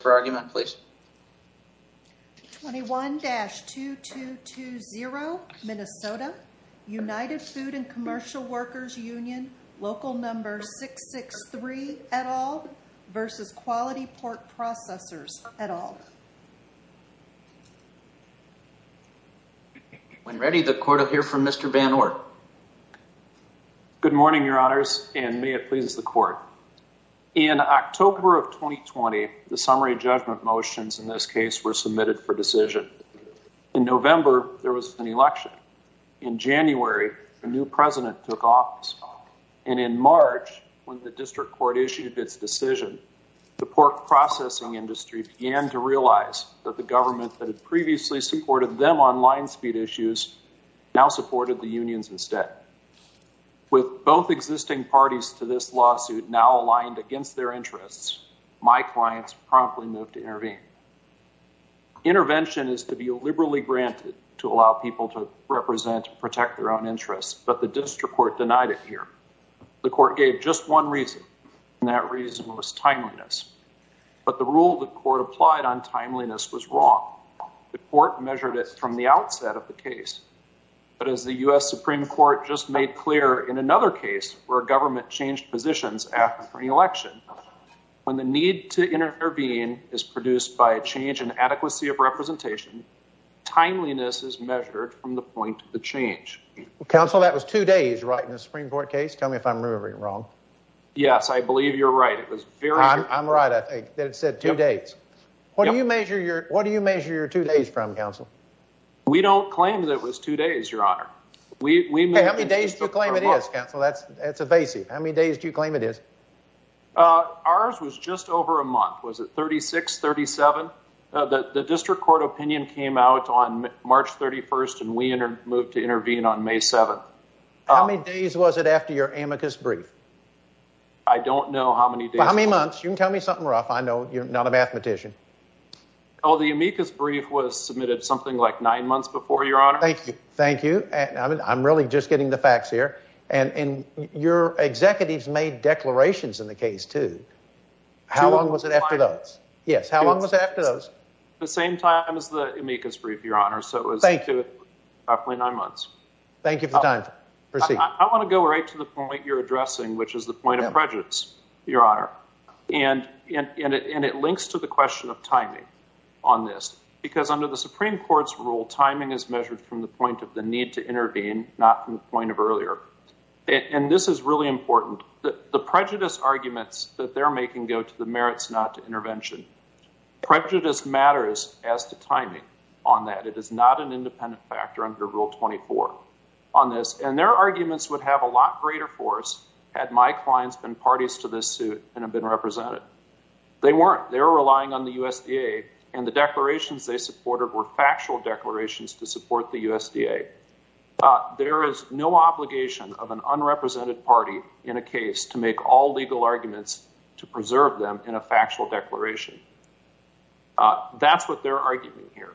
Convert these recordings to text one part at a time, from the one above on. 21-2220, Minnesota, United Food and Commercial Workers Union, Local Number 663, et al. v. Quality Pork Processors, et al. In November, there was an election. In January, a new president took office. And in March, when the district court issued its decision, the pork processing industry began to realize that the government that had previously supported them on line speed issues now supported the unions instead. With both existing parties to this lawsuit now aligned against their interests, my clients promptly moved to intervene. Intervention is to be liberally granted to allow people to represent and protect their own interests, but the district court denied it here. The court gave just one reason, and that reason was timeliness. But the rule the court applied on timeliness was wrong. The court measured it from the outset of the case. But as the U.S. Supreme Court just made clear in another case where a government changed positions after an election, when the need to intervene is produced by a change in adequacy of representation, timeliness is measured from the point of the change. Counsel, that was two days, right, in the Supreme Court case? Tell me if I'm remembering it wrong. Yes, I believe you're right. It was very short. I'm right, I think, that it said two days. What do you measure your two days from, Counsel? We don't claim that it was two days, Your Honor. How many days do you claim it is, Counsel? That's evasive. How many days do you claim it is? Ours was just over a month. Was it 36, 37? The district court opinion came out on March 31st, and we moved to intervene on May 7th. How many days was it after your amicus brief? I don't know how many days. How many months? You can tell me something rough. I know you're not a mathematician. Oh, the amicus brief was submitted something like nine months before, Your Honor. Thank you. Thank you. I'm really just getting the facts here. And your executives made declarations in the case, too. How long was it after those? Yes, how long was it after those? The same time as the amicus brief, Your Honor, so it was roughly nine months. Thank you for the time. Proceed. I want to go right to the point you're addressing, which is the point of prejudice, Your Honor. And it links to the question of timing on this, because under the Supreme Court's rule, timing is measured from the point of the need to intervene, not from the point of earlier. And this is really important. The prejudice arguments that they're making go to the merits, not to intervention. Prejudice matters as to timing on that. It is not an independent factor under Rule 24 on this. And their arguments would have a lot greater force had my clients been parties to this suit and have been represented. They weren't. They were relying on the USDA, and the declarations they supported were factual declarations to support the USDA. There is no obligation of an unrepresented party in a case to make all legal arguments to preserve them in a factual declaration. That's what they're arguing here.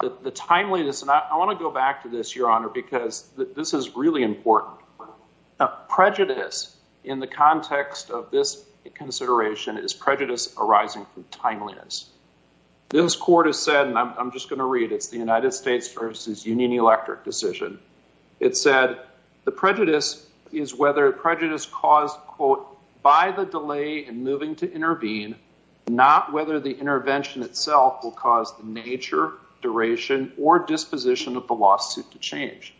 The timeliness, and I want to go back to this, Your Honor, because this is really important. Prejudice in the context of this consideration is prejudice arising from timeliness. This court has said, and I'm just going to read, it's the United States versus Union Electric decision. It said, the prejudice is whether prejudice caused, quote, by the delay in moving to intervene, not whether the intervention itself will cause the nature, duration, or disposition of the lawsuit to change.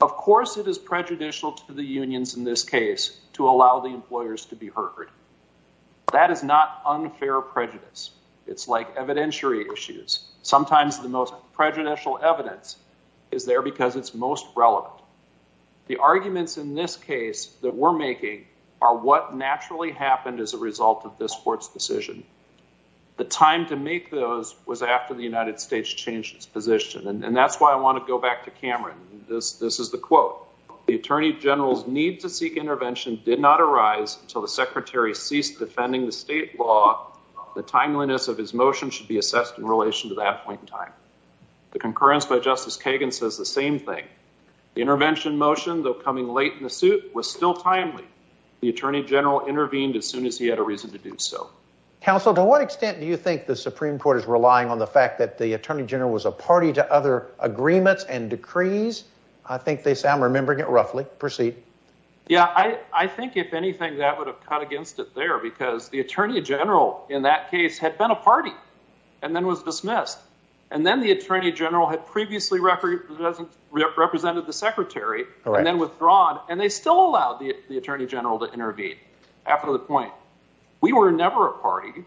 Of course, it is prejudicial to the unions in this case to allow the employers to be heard. That is not unfair prejudice. It's like evidentiary issues. Sometimes the most prejudicial evidence is there because it's most relevant. The arguments in this case that we're making are what naturally happened as a result of this court's decision. The time to make those was after the United States changed its position, and that's why I want to go back to Cameron. This is the quote. The attorney general's need to seek intervention did not arise until the secretary ceased defending the state law. The timeliness of his motion should be assessed in relation to that point in time. The concurrence by Justice Kagan says the same thing. The intervention motion, though coming late in the suit, was still timely. The attorney general intervened as soon as he had a reason to do so. Counsel, to what extent do you think the Supreme Court is relying on the fact that the attorney general was a party to other agreements and decrees? Yeah, I think, if anything, that would have cut against it there because the attorney general in that case had been a party and then was dismissed. And then the attorney general had previously represented the secretary and then withdrawn. And they still allowed the attorney general to intervene after the point. We were never a party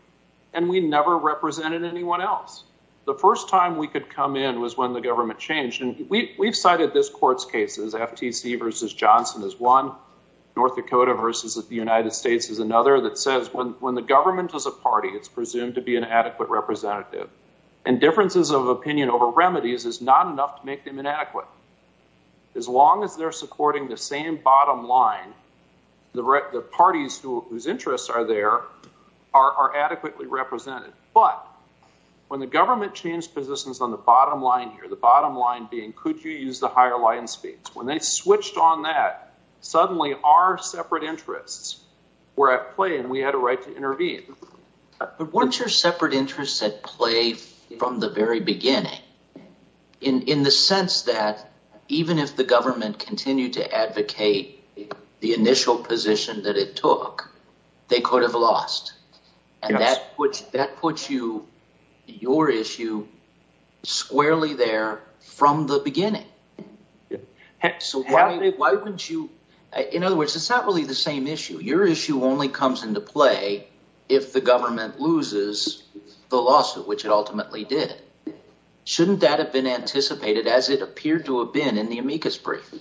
and we never represented anyone else. The first time we could come in was when the government changed. We've cited this court's cases. FTC versus Johnson is one. North Dakota versus the United States is another that says when the government is a party, it's presumed to be an adequate representative. And differences of opinion over remedies is not enough to make them inadequate. As long as they're supporting the same bottom line, the parties whose interests are there are adequately represented. But when the government changed positions on the bottom line here, the bottom line being, could you use the higher line speeds? When they switched on that, suddenly our separate interests were at play and we had a right to intervene. But weren't your separate interests at play from the very beginning in the sense that even if the government continued to advocate the initial position that it took, they could have lost? And that puts that puts you your issue squarely there from the beginning. So why wouldn't you? In other words, it's not really the same issue. Your issue only comes into play if the government loses the lawsuit, which it ultimately did. Shouldn't that have been anticipated as it appeared to have been in the amicus brief?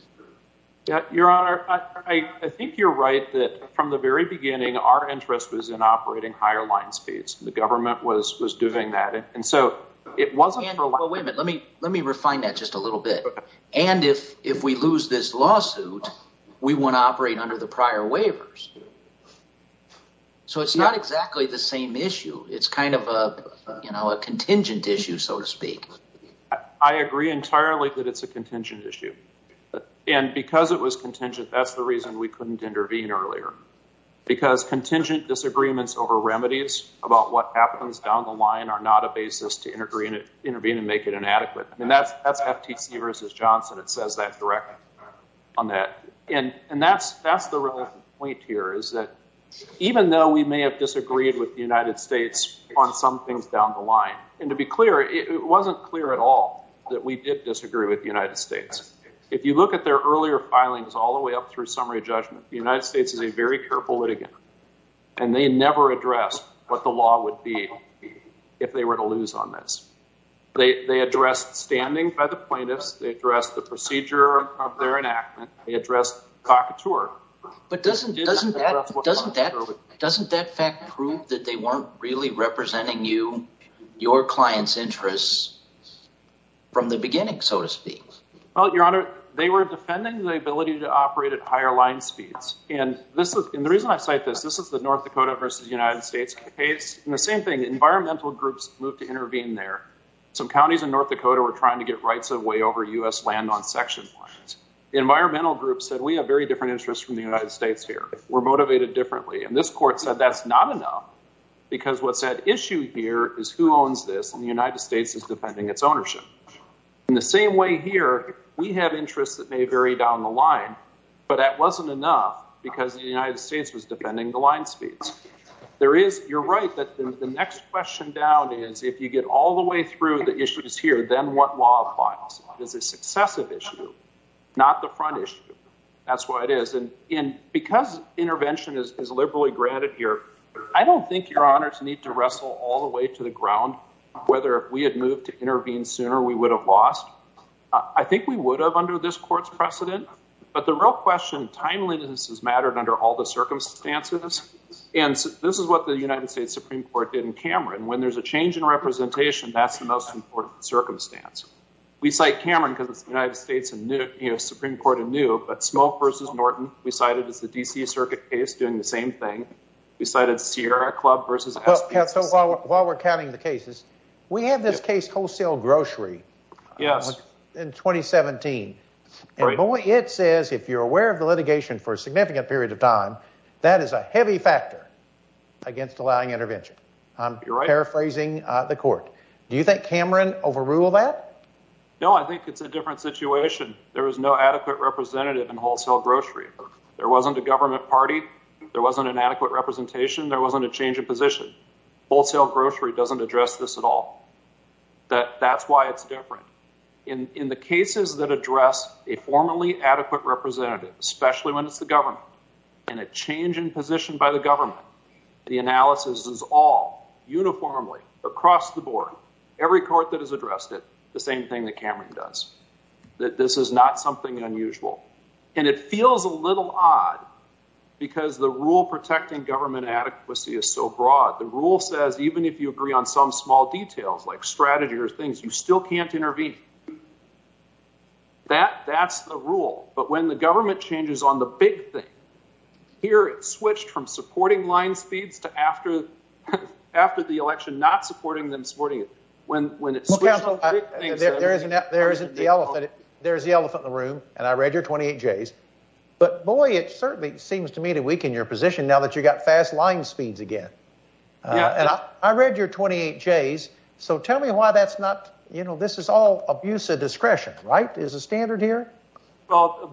Your Honor, I think you're right that from the very beginning, our interest was in operating higher line speeds. The government was was doing that. And so it wasn't for women. Let me let me refine that just a little bit. And if if we lose this lawsuit, we want to operate under the prior waivers. So it's not exactly the same issue. It's kind of a contingent issue, so to speak. I agree entirely that it's a contingent issue. And because it was contingent, that's the reason we couldn't intervene earlier. Because contingent disagreements over remedies about what happens down the line are not a basis to intervene and intervene and make it inadequate. And that's that's FTC versus Johnson. It says that direct on that. And and that's that's the point here is that even though we may have disagreed with the United States on some things down the line. And to be clear, it wasn't clear at all that we did disagree with the United States. If you look at their earlier filings all the way up through summary judgment, the United States is a very careful litigant. And they never addressed what the law would be if they were to lose on this. They addressed standing by the plaintiffs. They addressed the procedure of their enactment. But doesn't doesn't doesn't that doesn't that fact prove that they weren't really representing you, your clients interests from the beginning, so to speak? Well, Your Honor, they were defending the ability to operate at higher line speeds. And this is the reason I cite this. This is the North Dakota versus United States case. And the same thing, environmental groups moved to intervene there. Some counties in North Dakota were trying to get rights of way over U.S. land on section lines. Environmental groups said we have very different interests from the United States here. We're motivated differently. And this court said that's not enough because what's at issue here is who owns this. And the United States is defending its ownership in the same way here. We have interests that may vary down the line, but that wasn't enough because the United States was defending the line speeds. There is. You're right that the next question down is if you get all the way through the issues here, then what law applies? It is a successive issue, not the front issue. That's what it is. And because intervention is liberally granted here, I don't think your honors need to wrestle all the way to the ground. Whether we had moved to intervene sooner, we would have lost. I think we would have under this court's precedent. But the real question, timeliness has mattered under all the circumstances. And this is what the United States Supreme Court did in Cameron. When there's a change in representation, that's the most important circumstance. We cite Cameron because the United States and the Supreme Court are new. But Smolt versus Norton, we cited as the D.C. Circuit case doing the same thing. We cited Sierra Club versus. So while we're counting the cases, we have this case wholesale grocery. Yes. In twenty seventeen. It says if you're aware of the litigation for a significant period of time, that is a heavy factor against allowing intervention. I'm paraphrasing the court. Do you think Cameron overrule that? No, I think it's a different situation. There is no adequate representative in wholesale grocery. There wasn't a government party. There wasn't an adequate representation. There wasn't a change of position. Wholesale grocery doesn't address this at all. That that's why it's different in the cases that address a formally adequate representative, especially when it's the government and a change in position by the government. The analysis is all uniformly across the board. Every court that has addressed it, the same thing that Cameron does, that this is not something unusual. And it feels a little odd because the rule protecting government adequacy is so broad. The rule says even if you agree on some small details like strategy or things, you still can't intervene. That that's the rule. But when the government changes on the big thing here, it switched from supporting line speeds to after after the election, not supporting them supporting it. When when it's there, isn't that there isn't the elephant? There is the elephant in the room. And I read your 28 days. But boy, it certainly seems to me to weaken your position now that you've got fast line speeds again. And I read your 28 days. So tell me why that's not you know, this is all abuse of discretion, right? Well, abuse of discretion applies. Well,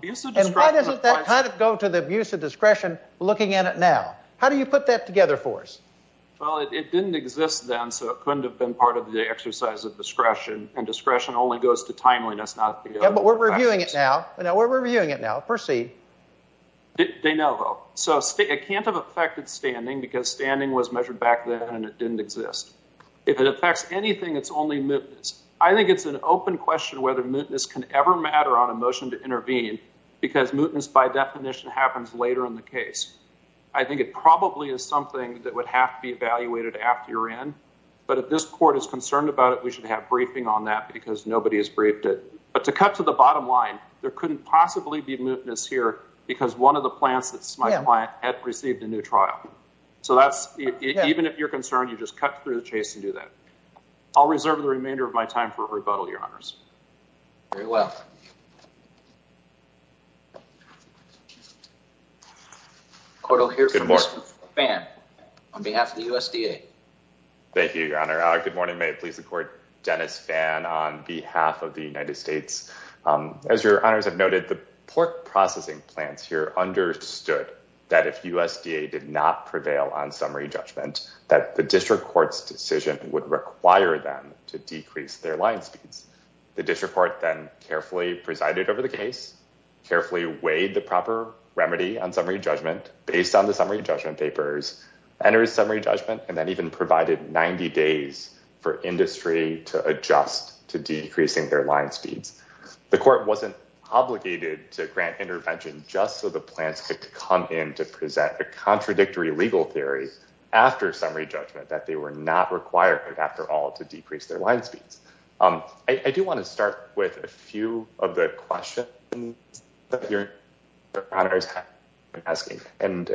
it didn't exist then, so it couldn't have been part of the exercise of discretion. And discretion only goes to timeliness, not. Yeah, but we're reviewing it now. We're reviewing it now. Proceed. De novo. So it can't have affected standing because standing was measured back then and it didn't exist. If it affects anything, it's only mootness. I think it's an open question whether mootness can ever matter on a motion to intervene because mootness by definition happens later in the case. I think it probably is something that would have to be evaluated after you're in. But if this court is concerned about it, we should have briefing on that because nobody has briefed it. But to cut to the bottom line, there couldn't possibly be mootness here because one of the plants that's my client had received a new trial. So that's even if you're concerned, you just cut through the chase and do that. I'll reserve the remainder of my time for rebuttal, your honors. Very well. I'll hear more fan on behalf of the USDA. Thank you, Your Honor. Good morning. May it please the court. Dennis fan on behalf of the United States. As your honors have noted, the pork processing plants here understood that if USDA did not prevail on summary judgment, that the district court's decision would require them to decrease their line speeds. The district court then carefully presided over the case, carefully weighed the proper remedy on summary judgment based on the summary judgment papers, enters summary judgment, and then even provided 90 days for industry to adjust to decreasing their line speeds. The court wasn't obligated to grant intervention just so the plants could come in to present a contradictory legal theory after summary judgment that they were not required after all to decrease their line speeds. I do want to start with a few of the questions that your honors have been asking and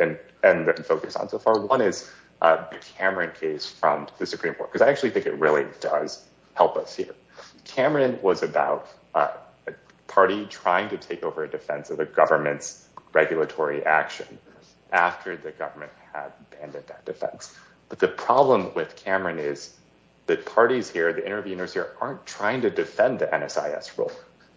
focus on so far. One is the Cameron case from the Supreme Court, because I actually think it really does help us here. Cameron was about a party trying to take over a defense of the government's regulatory action after the government had abandoned that defense. But the problem with Cameron is that parties here, the interveners here, aren't trying to defend the NSIS rule.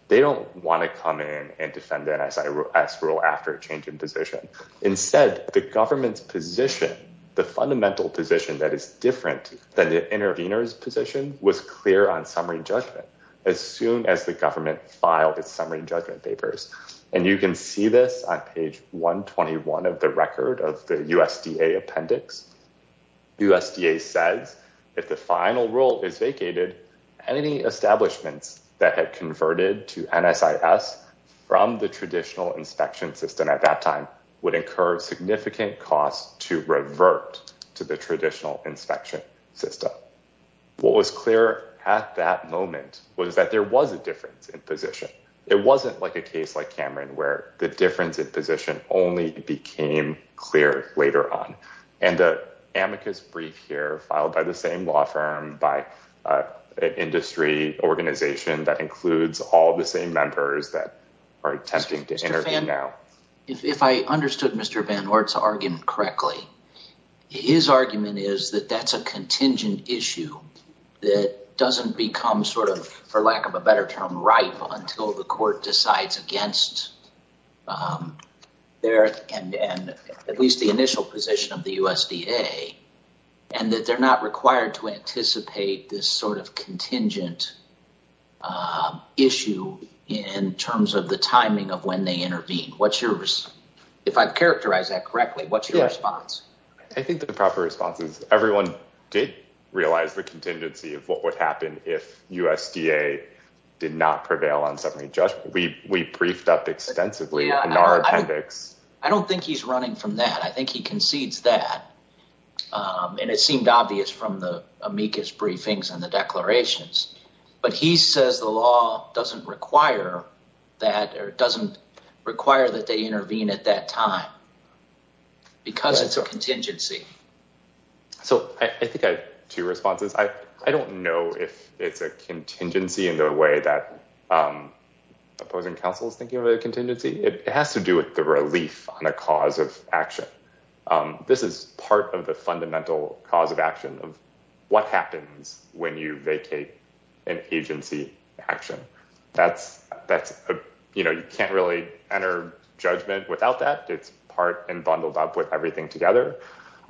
They don't want to come in and defend the NSIS rule after a change in position. Instead, the government's position, the fundamental position that is different than the intervener's position, was clear on summary judgment as soon as the government filed its summary judgment papers. And you can see this on page 121 of the record of the USDA appendix. USDA says, if the final rule is vacated, any establishments that had converted to NSIS from the traditional inspection system at that time would incur significant costs to revert to the traditional inspection system. What was clear at that moment was that there was a difference in position. It wasn't like a case like Cameron where the difference in position only became clear later on. And the amicus brief here filed by the same law firm, by an industry organization that includes all the same members that are attempting to intervene now. If I understood Mr. Van Ortz's argument correctly, his argument is that that's a contingent issue that doesn't become sort of, for lack of a better term, ripe until the court decides against their and at least the initial position of the USDA. And that they're not required to anticipate this sort of contingent issue in terms of the timing of when they intervene. If I've characterized that correctly, what's your response? I think the proper response is everyone did realize the contingency of what would happen if USDA did not prevail on summary judgment. We briefed up extensively in our appendix. I don't think he's running from that. I think he concedes that. And it seemed obvious from the amicus briefings and the declarations. But he says the law doesn't require that or doesn't require that they intervene at that time. Because it's a contingency. So I think I have two responses. I don't know if it's a contingency in the way that opposing counsel is thinking of a contingency. It has to do with the relief on a cause of action. This is part of the fundamental cause of action of what happens when you vacate an agency action. You can't really enter judgment without that. It's part and bundled up with everything together.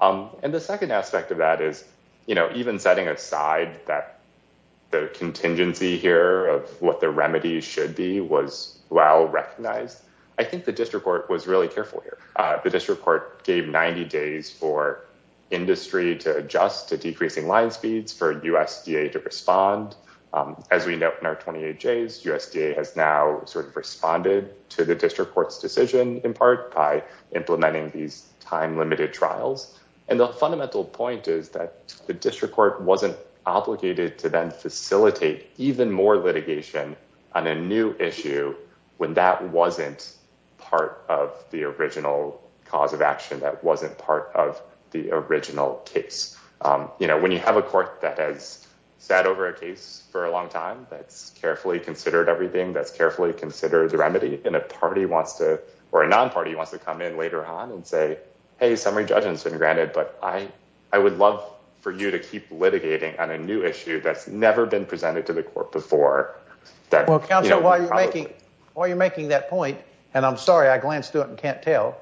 And the second aspect of that is even setting aside that the contingency here of what the remedy should be was well recognized. I think the district court was really careful here. The district court gave 90 days for industry to adjust to decreasing line speeds for USDA to respond. As we note in our 28 days, USDA has now sort of responded to the district court's decision in part by implementing these time limited trials. And the fundamental point is that the district court wasn't obligated to then facilitate even more litigation on a new issue when that wasn't part of the original cause of action. That wasn't part of the original case. When you have a court that has sat over a case for a long time, that's carefully considered everything, that's carefully considered the remedy, and a party wants to, or a non-party wants to come in later on and say, Hey, summary judgment's been granted, but I would love for you to keep litigating on a new issue that's never been presented to the court before. Well, counsel, while you're making that point, and I'm sorry I glanced through it and can't tell,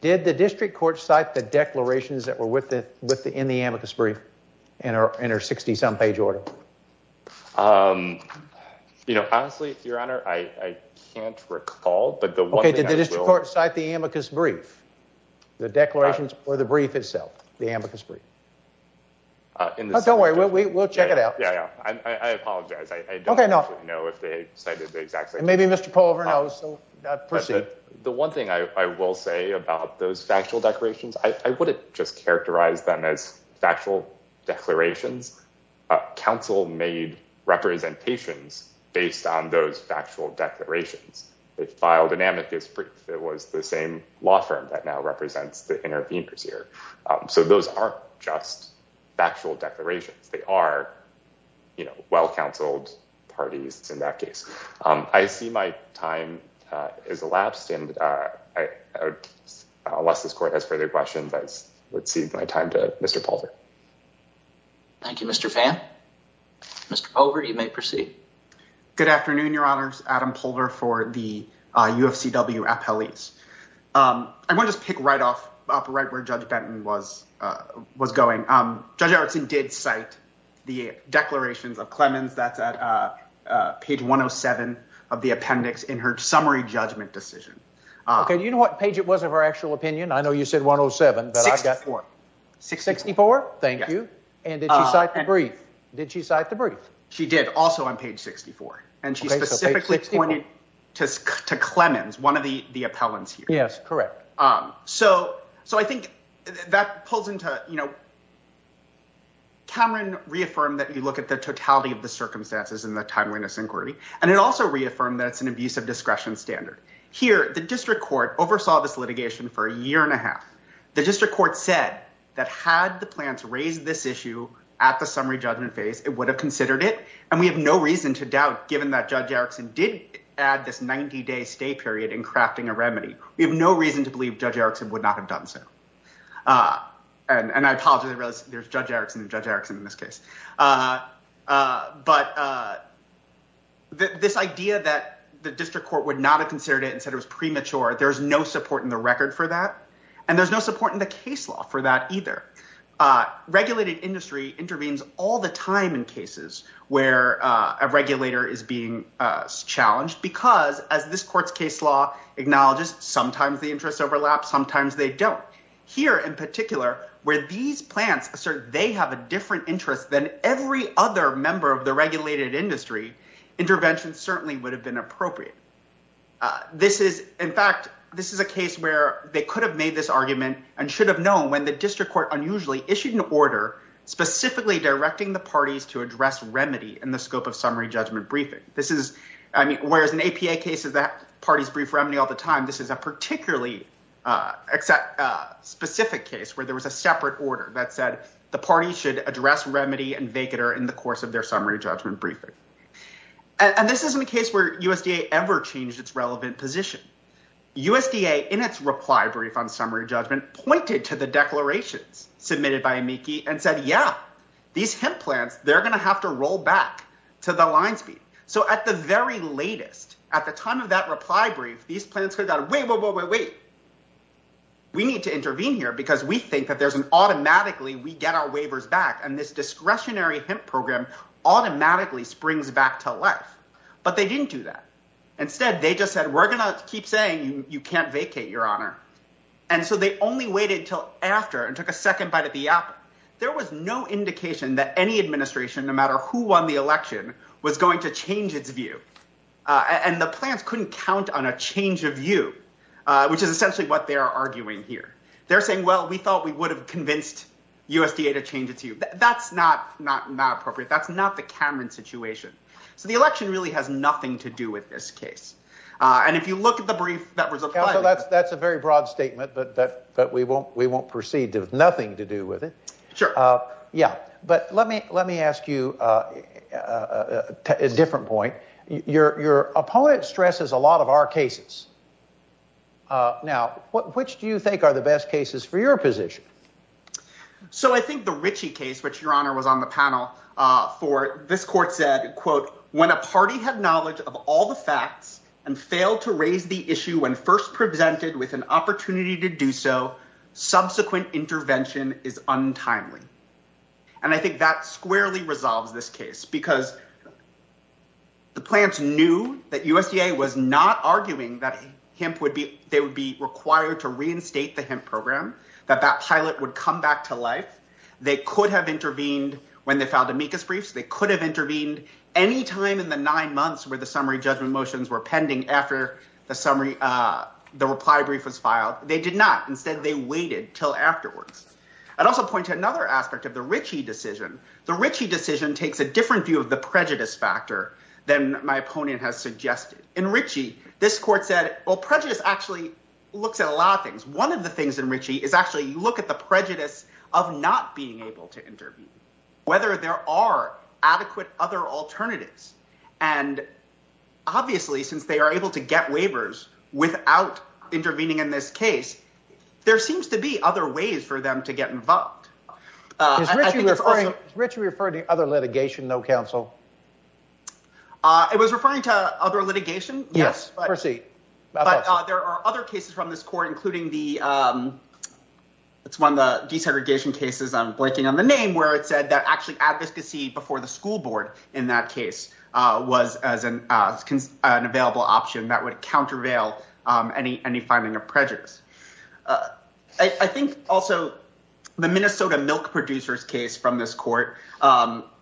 did the district court cite the declarations that were in the amicus brief in her 60-some page order? You know, honestly, your honor, I can't recall, but the one thing I will— Okay, did the district court cite the amicus brief, the declarations, or the brief itself, the amicus brief? Don't worry, we'll check it out. Yeah, yeah, I apologize. I don't actually know if they cited the exact same thing. Maybe Mr. Polver knows, so proceed. The one thing I will say about those factual declarations, I wouldn't just characterize them as factual declarations. Counsel made representations based on those factual declarations. They filed an amicus brief that was the same law firm that now represents the interveners here. So those aren't just factual declarations. They are, you know, well-counseled parties in that case. I see my time has elapsed, and unless this court has further questions, I would cede my time to Mr. Polver. Thank you, Mr. Phan. Mr. Polver, you may proceed. Good afternoon, your honors. Adam Polver for the UFCW appellees. I want to just pick right off, right where Judge Benton was going. Judge Erickson did cite the declarations of Clemens that's at page 107 of the appendix in her summary judgment decision. OK, you know what page it was of her actual opinion? I know you said 107, but I've got— 64. 64? Thank you. And did she cite the brief? Did she cite the brief? She did, also on page 64, and she specifically pointed to Clemens, one of the appellants here. Yes, correct. So I think that pulls into, you know— Cameron reaffirmed that you look at the totality of the circumstances in the timeliness inquiry, and it also reaffirmed that it's an abuse of discretion standard. Here, the district court oversaw this litigation for a year and a half. The district court said that had the plants raised this issue at the summary judgment phase, it would have considered it, and we have no reason to doubt, given that Judge Erickson did add this 90-day stay period in crafting a remedy, we have no reason to believe Judge Erickson would not have done so. And I apologize, there's Judge Erickson and Judge Erickson in this case. But this idea that the district court would not have considered it and said it was premature, there's no support in the record for that, and there's no support in the case law for that either. Regulated industry intervenes all the time in cases where a regulator is being challenged because, as this court's case law acknowledges, sometimes the interests overlap, sometimes they don't. Here in particular, where these plants assert they have a different interest than every other member of the regulated industry, intervention certainly would have been appropriate. This is—in fact, this is a case where they could have made this argument and should have known when the district court unusually issued an order specifically directing the parties to address remedy in the scope of summary judgment briefing. This is—I mean, whereas in APA cases the parties brief remedy all the time, this is a particularly specific case where there was a separate order that said the parties should address remedy and vacater in the course of their summary judgment briefing. And this isn't a case where USDA ever changed its relevant position. USDA, in its reply brief on summary judgment, pointed to the declarations submitted by AMICI and said, yeah, these hemp plants, they're going to have to roll back to the line speed. So at the very latest, at the time of that reply brief, these plants heard that, wait, wait, wait, wait, wait, we need to intervene here because we think that there's an automatically we get our waivers back and this discretionary hemp program automatically springs back to life. But they didn't do that. Instead, they just said, we're going to keep saying you can't vacate, Your Honor. And so they only waited until after and took a second bite at the apple. Now, there was no indication that any administration, no matter who won the election, was going to change its view. And the plants couldn't count on a change of view, which is essentially what they are arguing here. They're saying, well, we thought we would have convinced USDA to change its view. That's not not not appropriate. That's not the Cameron situation. So the election really has nothing to do with this case. And if you look at the brief that was applied. Well, that's that's a very broad statement, but that that we won't we won't proceed to have nothing to do with it. Sure. Yeah. But let me let me ask you a different point. Your opponent stresses a lot of our cases. Now, which do you think are the best cases for your position? So I think the Ritchie case, which, Your Honor, was on the panel for this court said, quote, When a party had knowledge of all the facts and failed to raise the issue when first presented with an opportunity to do so. Subsequent intervention is untimely. And I think that squarely resolves this case because. The plants knew that USDA was not arguing that hemp would be they would be required to reinstate the hemp program, that that pilot would come back to life. They could have intervened when they filed amicus briefs. They could have intervened any time in the nine months where the summary judgment motions were pending after the summary. The reply brief was filed. They did not. Instead, they waited till afterwards. I'd also point to another aspect of the Ritchie decision. The Ritchie decision takes a different view of the prejudice factor than my opponent has suggested in Ritchie. This court said, well, prejudice actually looks at a lot of things. One of the things in Ritchie is actually you look at the prejudice of not being able to intervene, whether there are adequate other alternatives. And obviously, since they are able to get waivers without intervening in this case, there seems to be other ways for them to get involved. Ritchie referred to other litigation, no counsel. It was referring to other litigation. Yes, I see. But there are other cases from this court, including the it's one of the desegregation cases. I'm blanking on the name where it said that actually advocacy before the school board in that case was as an as an available option that would countervail any any finding of prejudice. I think also the Minnesota milk producers case from this court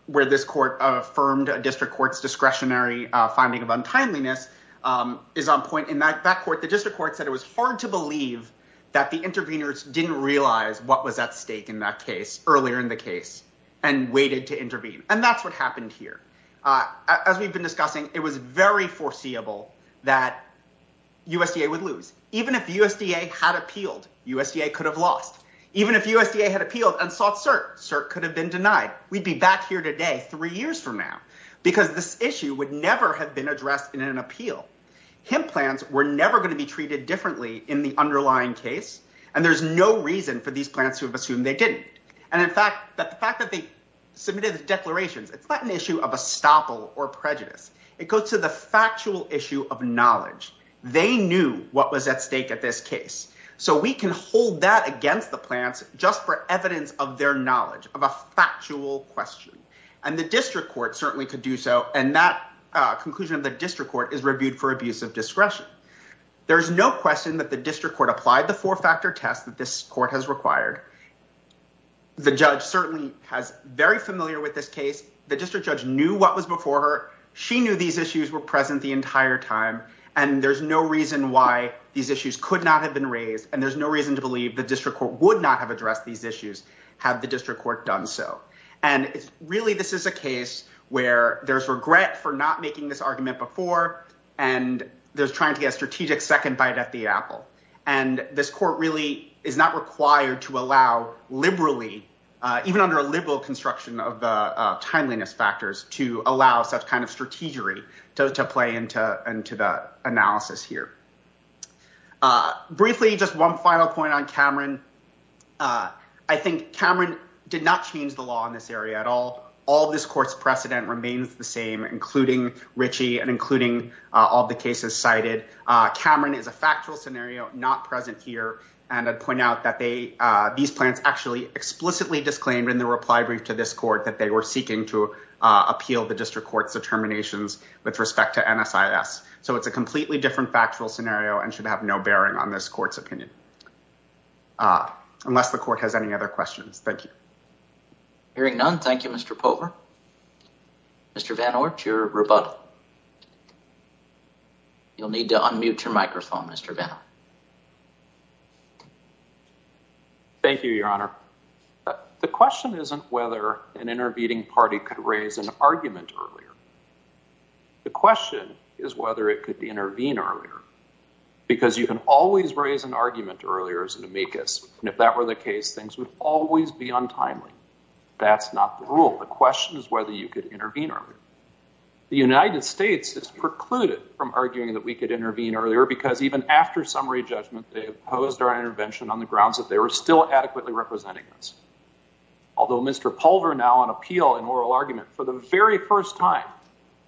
where this court affirmed a district court's discretionary finding of untimeliness is on point in that court. The district court said it was hard to believe that the interveners didn't realize what was at stake in that case earlier in the case and waited to intervene. And that's what happened here. As we've been discussing, it was very foreseeable that USDA would lose. Even if USDA had appealed, USDA could have lost. Even if USDA had appealed and sought cert, cert could have been denied. We'd be back here today three years from now because this issue would never have been addressed in an appeal. Hemp plants were never going to be treated differently in the underlying case. And there's no reason for these plants to have assumed they didn't. And in fact, the fact that they submitted the declarations, it's not an issue of a stopple or prejudice. It goes to the factual issue of knowledge. They knew what was at stake at this case. So we can hold that against the plants just for evidence of their knowledge of a factual question. And the district court certainly could do so. And that conclusion of the district court is reviewed for abuse of discretion. There is no question that the district court applied the four factor test that this court has required. The judge certainly has very familiar with this case. The district judge knew what was before her. She knew these issues were present the entire time. And there's no reason why these issues could not have been raised. And there's no reason to believe the district court would not have addressed these issues had the district court done so. And really, this is a case where there's regret for not making this argument before. And there's trying to get a strategic second bite at the apple. And this court really is not required to allow liberally, even under a liberal construction of the timeliness factors, to allow such kind of strategy to play into the analysis here. Briefly, just one final point on Cameron. I think Cameron did not change the law in this area at all. All this court's precedent remains the same, including Richie and including all the cases cited. Cameron is a factual scenario, not present here. And I'd point out that these plans actually explicitly disclaimed in the reply brief to this court that they were seeking to appeal the district court's determinations with respect to NSIS. So it's a completely different factual scenario and should have no bearing on this court's opinion. Unless the court has any other questions. Thank you. Hearing none. Thank you, Mr. Pover. Mr. Van Orch, your rebuttal. You'll need to unmute your microphone, Mr. Van Orch. Thank you, Your Honor. The question isn't whether an intervening party could raise an argument earlier. The question is whether it could intervene earlier. Because you can always raise an argument earlier as an amicus. And if that were the case, things would always be untimely. That's not the rule. The question is whether you could intervene earlier. The United States is precluded from arguing that we could intervene earlier because even after summary judgment, they opposed our intervention on the grounds that they were still adequately representing us. Although Mr. Pover now on appeal in oral argument for the very first time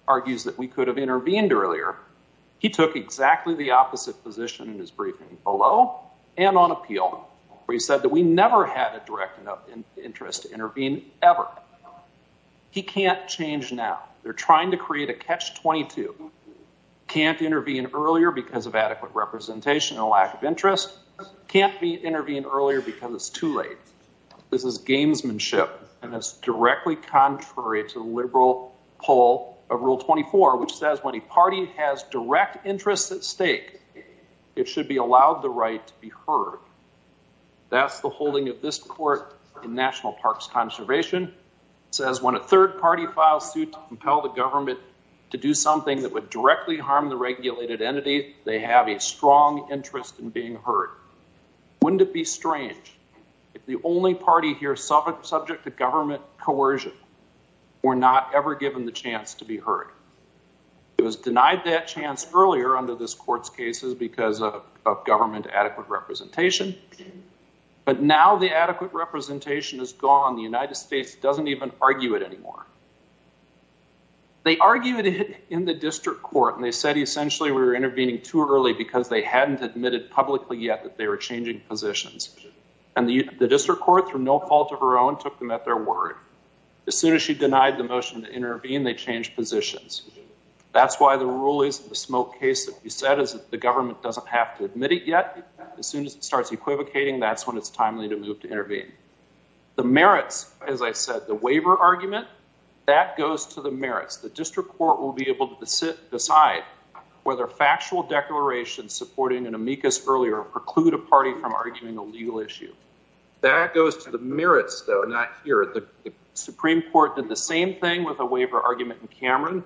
argues that we could have intervened earlier, he took exactly the opposite position in his briefing below and on appeal where he said that we never had a direct interest to intervene ever. He can't change now. They're trying to create a catch-22. Can't intervene earlier because of adequate representation and lack of interest. Can't intervene earlier because it's too late. This is gamesmanship, and it's directly contrary to the liberal pull of Rule 24, which says when a party has direct interest at stake, it should be allowed the right to be heard. That's the holding of this court in National Parks Conservation. It says when a third party files suit to compel the government to do something that would directly harm the regulated entity, they have a strong interest in being heard. Wouldn't it be strange if the only party here subject to government coercion were not ever given the chance to be heard? It was denied that chance earlier under this court's cases because of government adequate representation, but now the adequate representation is gone. The United States doesn't even argue it anymore. They argued it in the district court, and they said essentially we were intervening too early because they hadn't admitted publicly yet that they were changing positions. And the district court, through no fault of her own, took them at their word. As soon as she denied the motion to intervene, they changed positions. That's why the rulings of the Smoke case that you said is that the government doesn't have to admit it yet. As soon as it starts equivocating, that's when it's timely to move to intervene. The merits, as I said, the waiver argument, that goes to the merits. The district court will be able to decide whether factual declarations supporting an amicus earlier preclude a party from arguing a legal issue. That goes to the merits, though, not here. The Supreme Court did the same thing with a waiver argument in Cameron.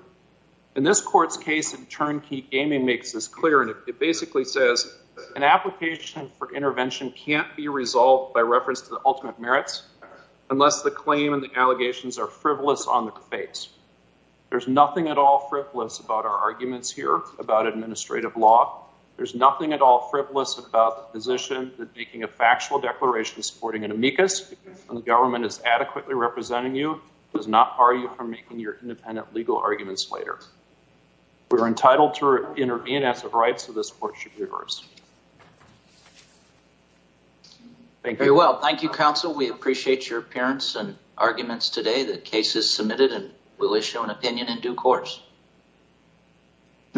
And this court's case in Turnkey Gaming makes this clear, and it basically says an application for intervention can't be resolved by reference to the ultimate merits unless the claim and the allegations are frivolous on the face. There's nothing at all frivolous about our arguments here about administrative law. There's nothing at all frivolous about the position that making a factual declaration supporting an amicus when the government is adequately representing you does not bar you from making your independent legal arguments later. We're entitled to intervene as a right, so this court should reverse. Thank you. Thank you, counsel. We appreciate your appearance and arguments today. The case is submitted, and we'll issue an opinion in due course.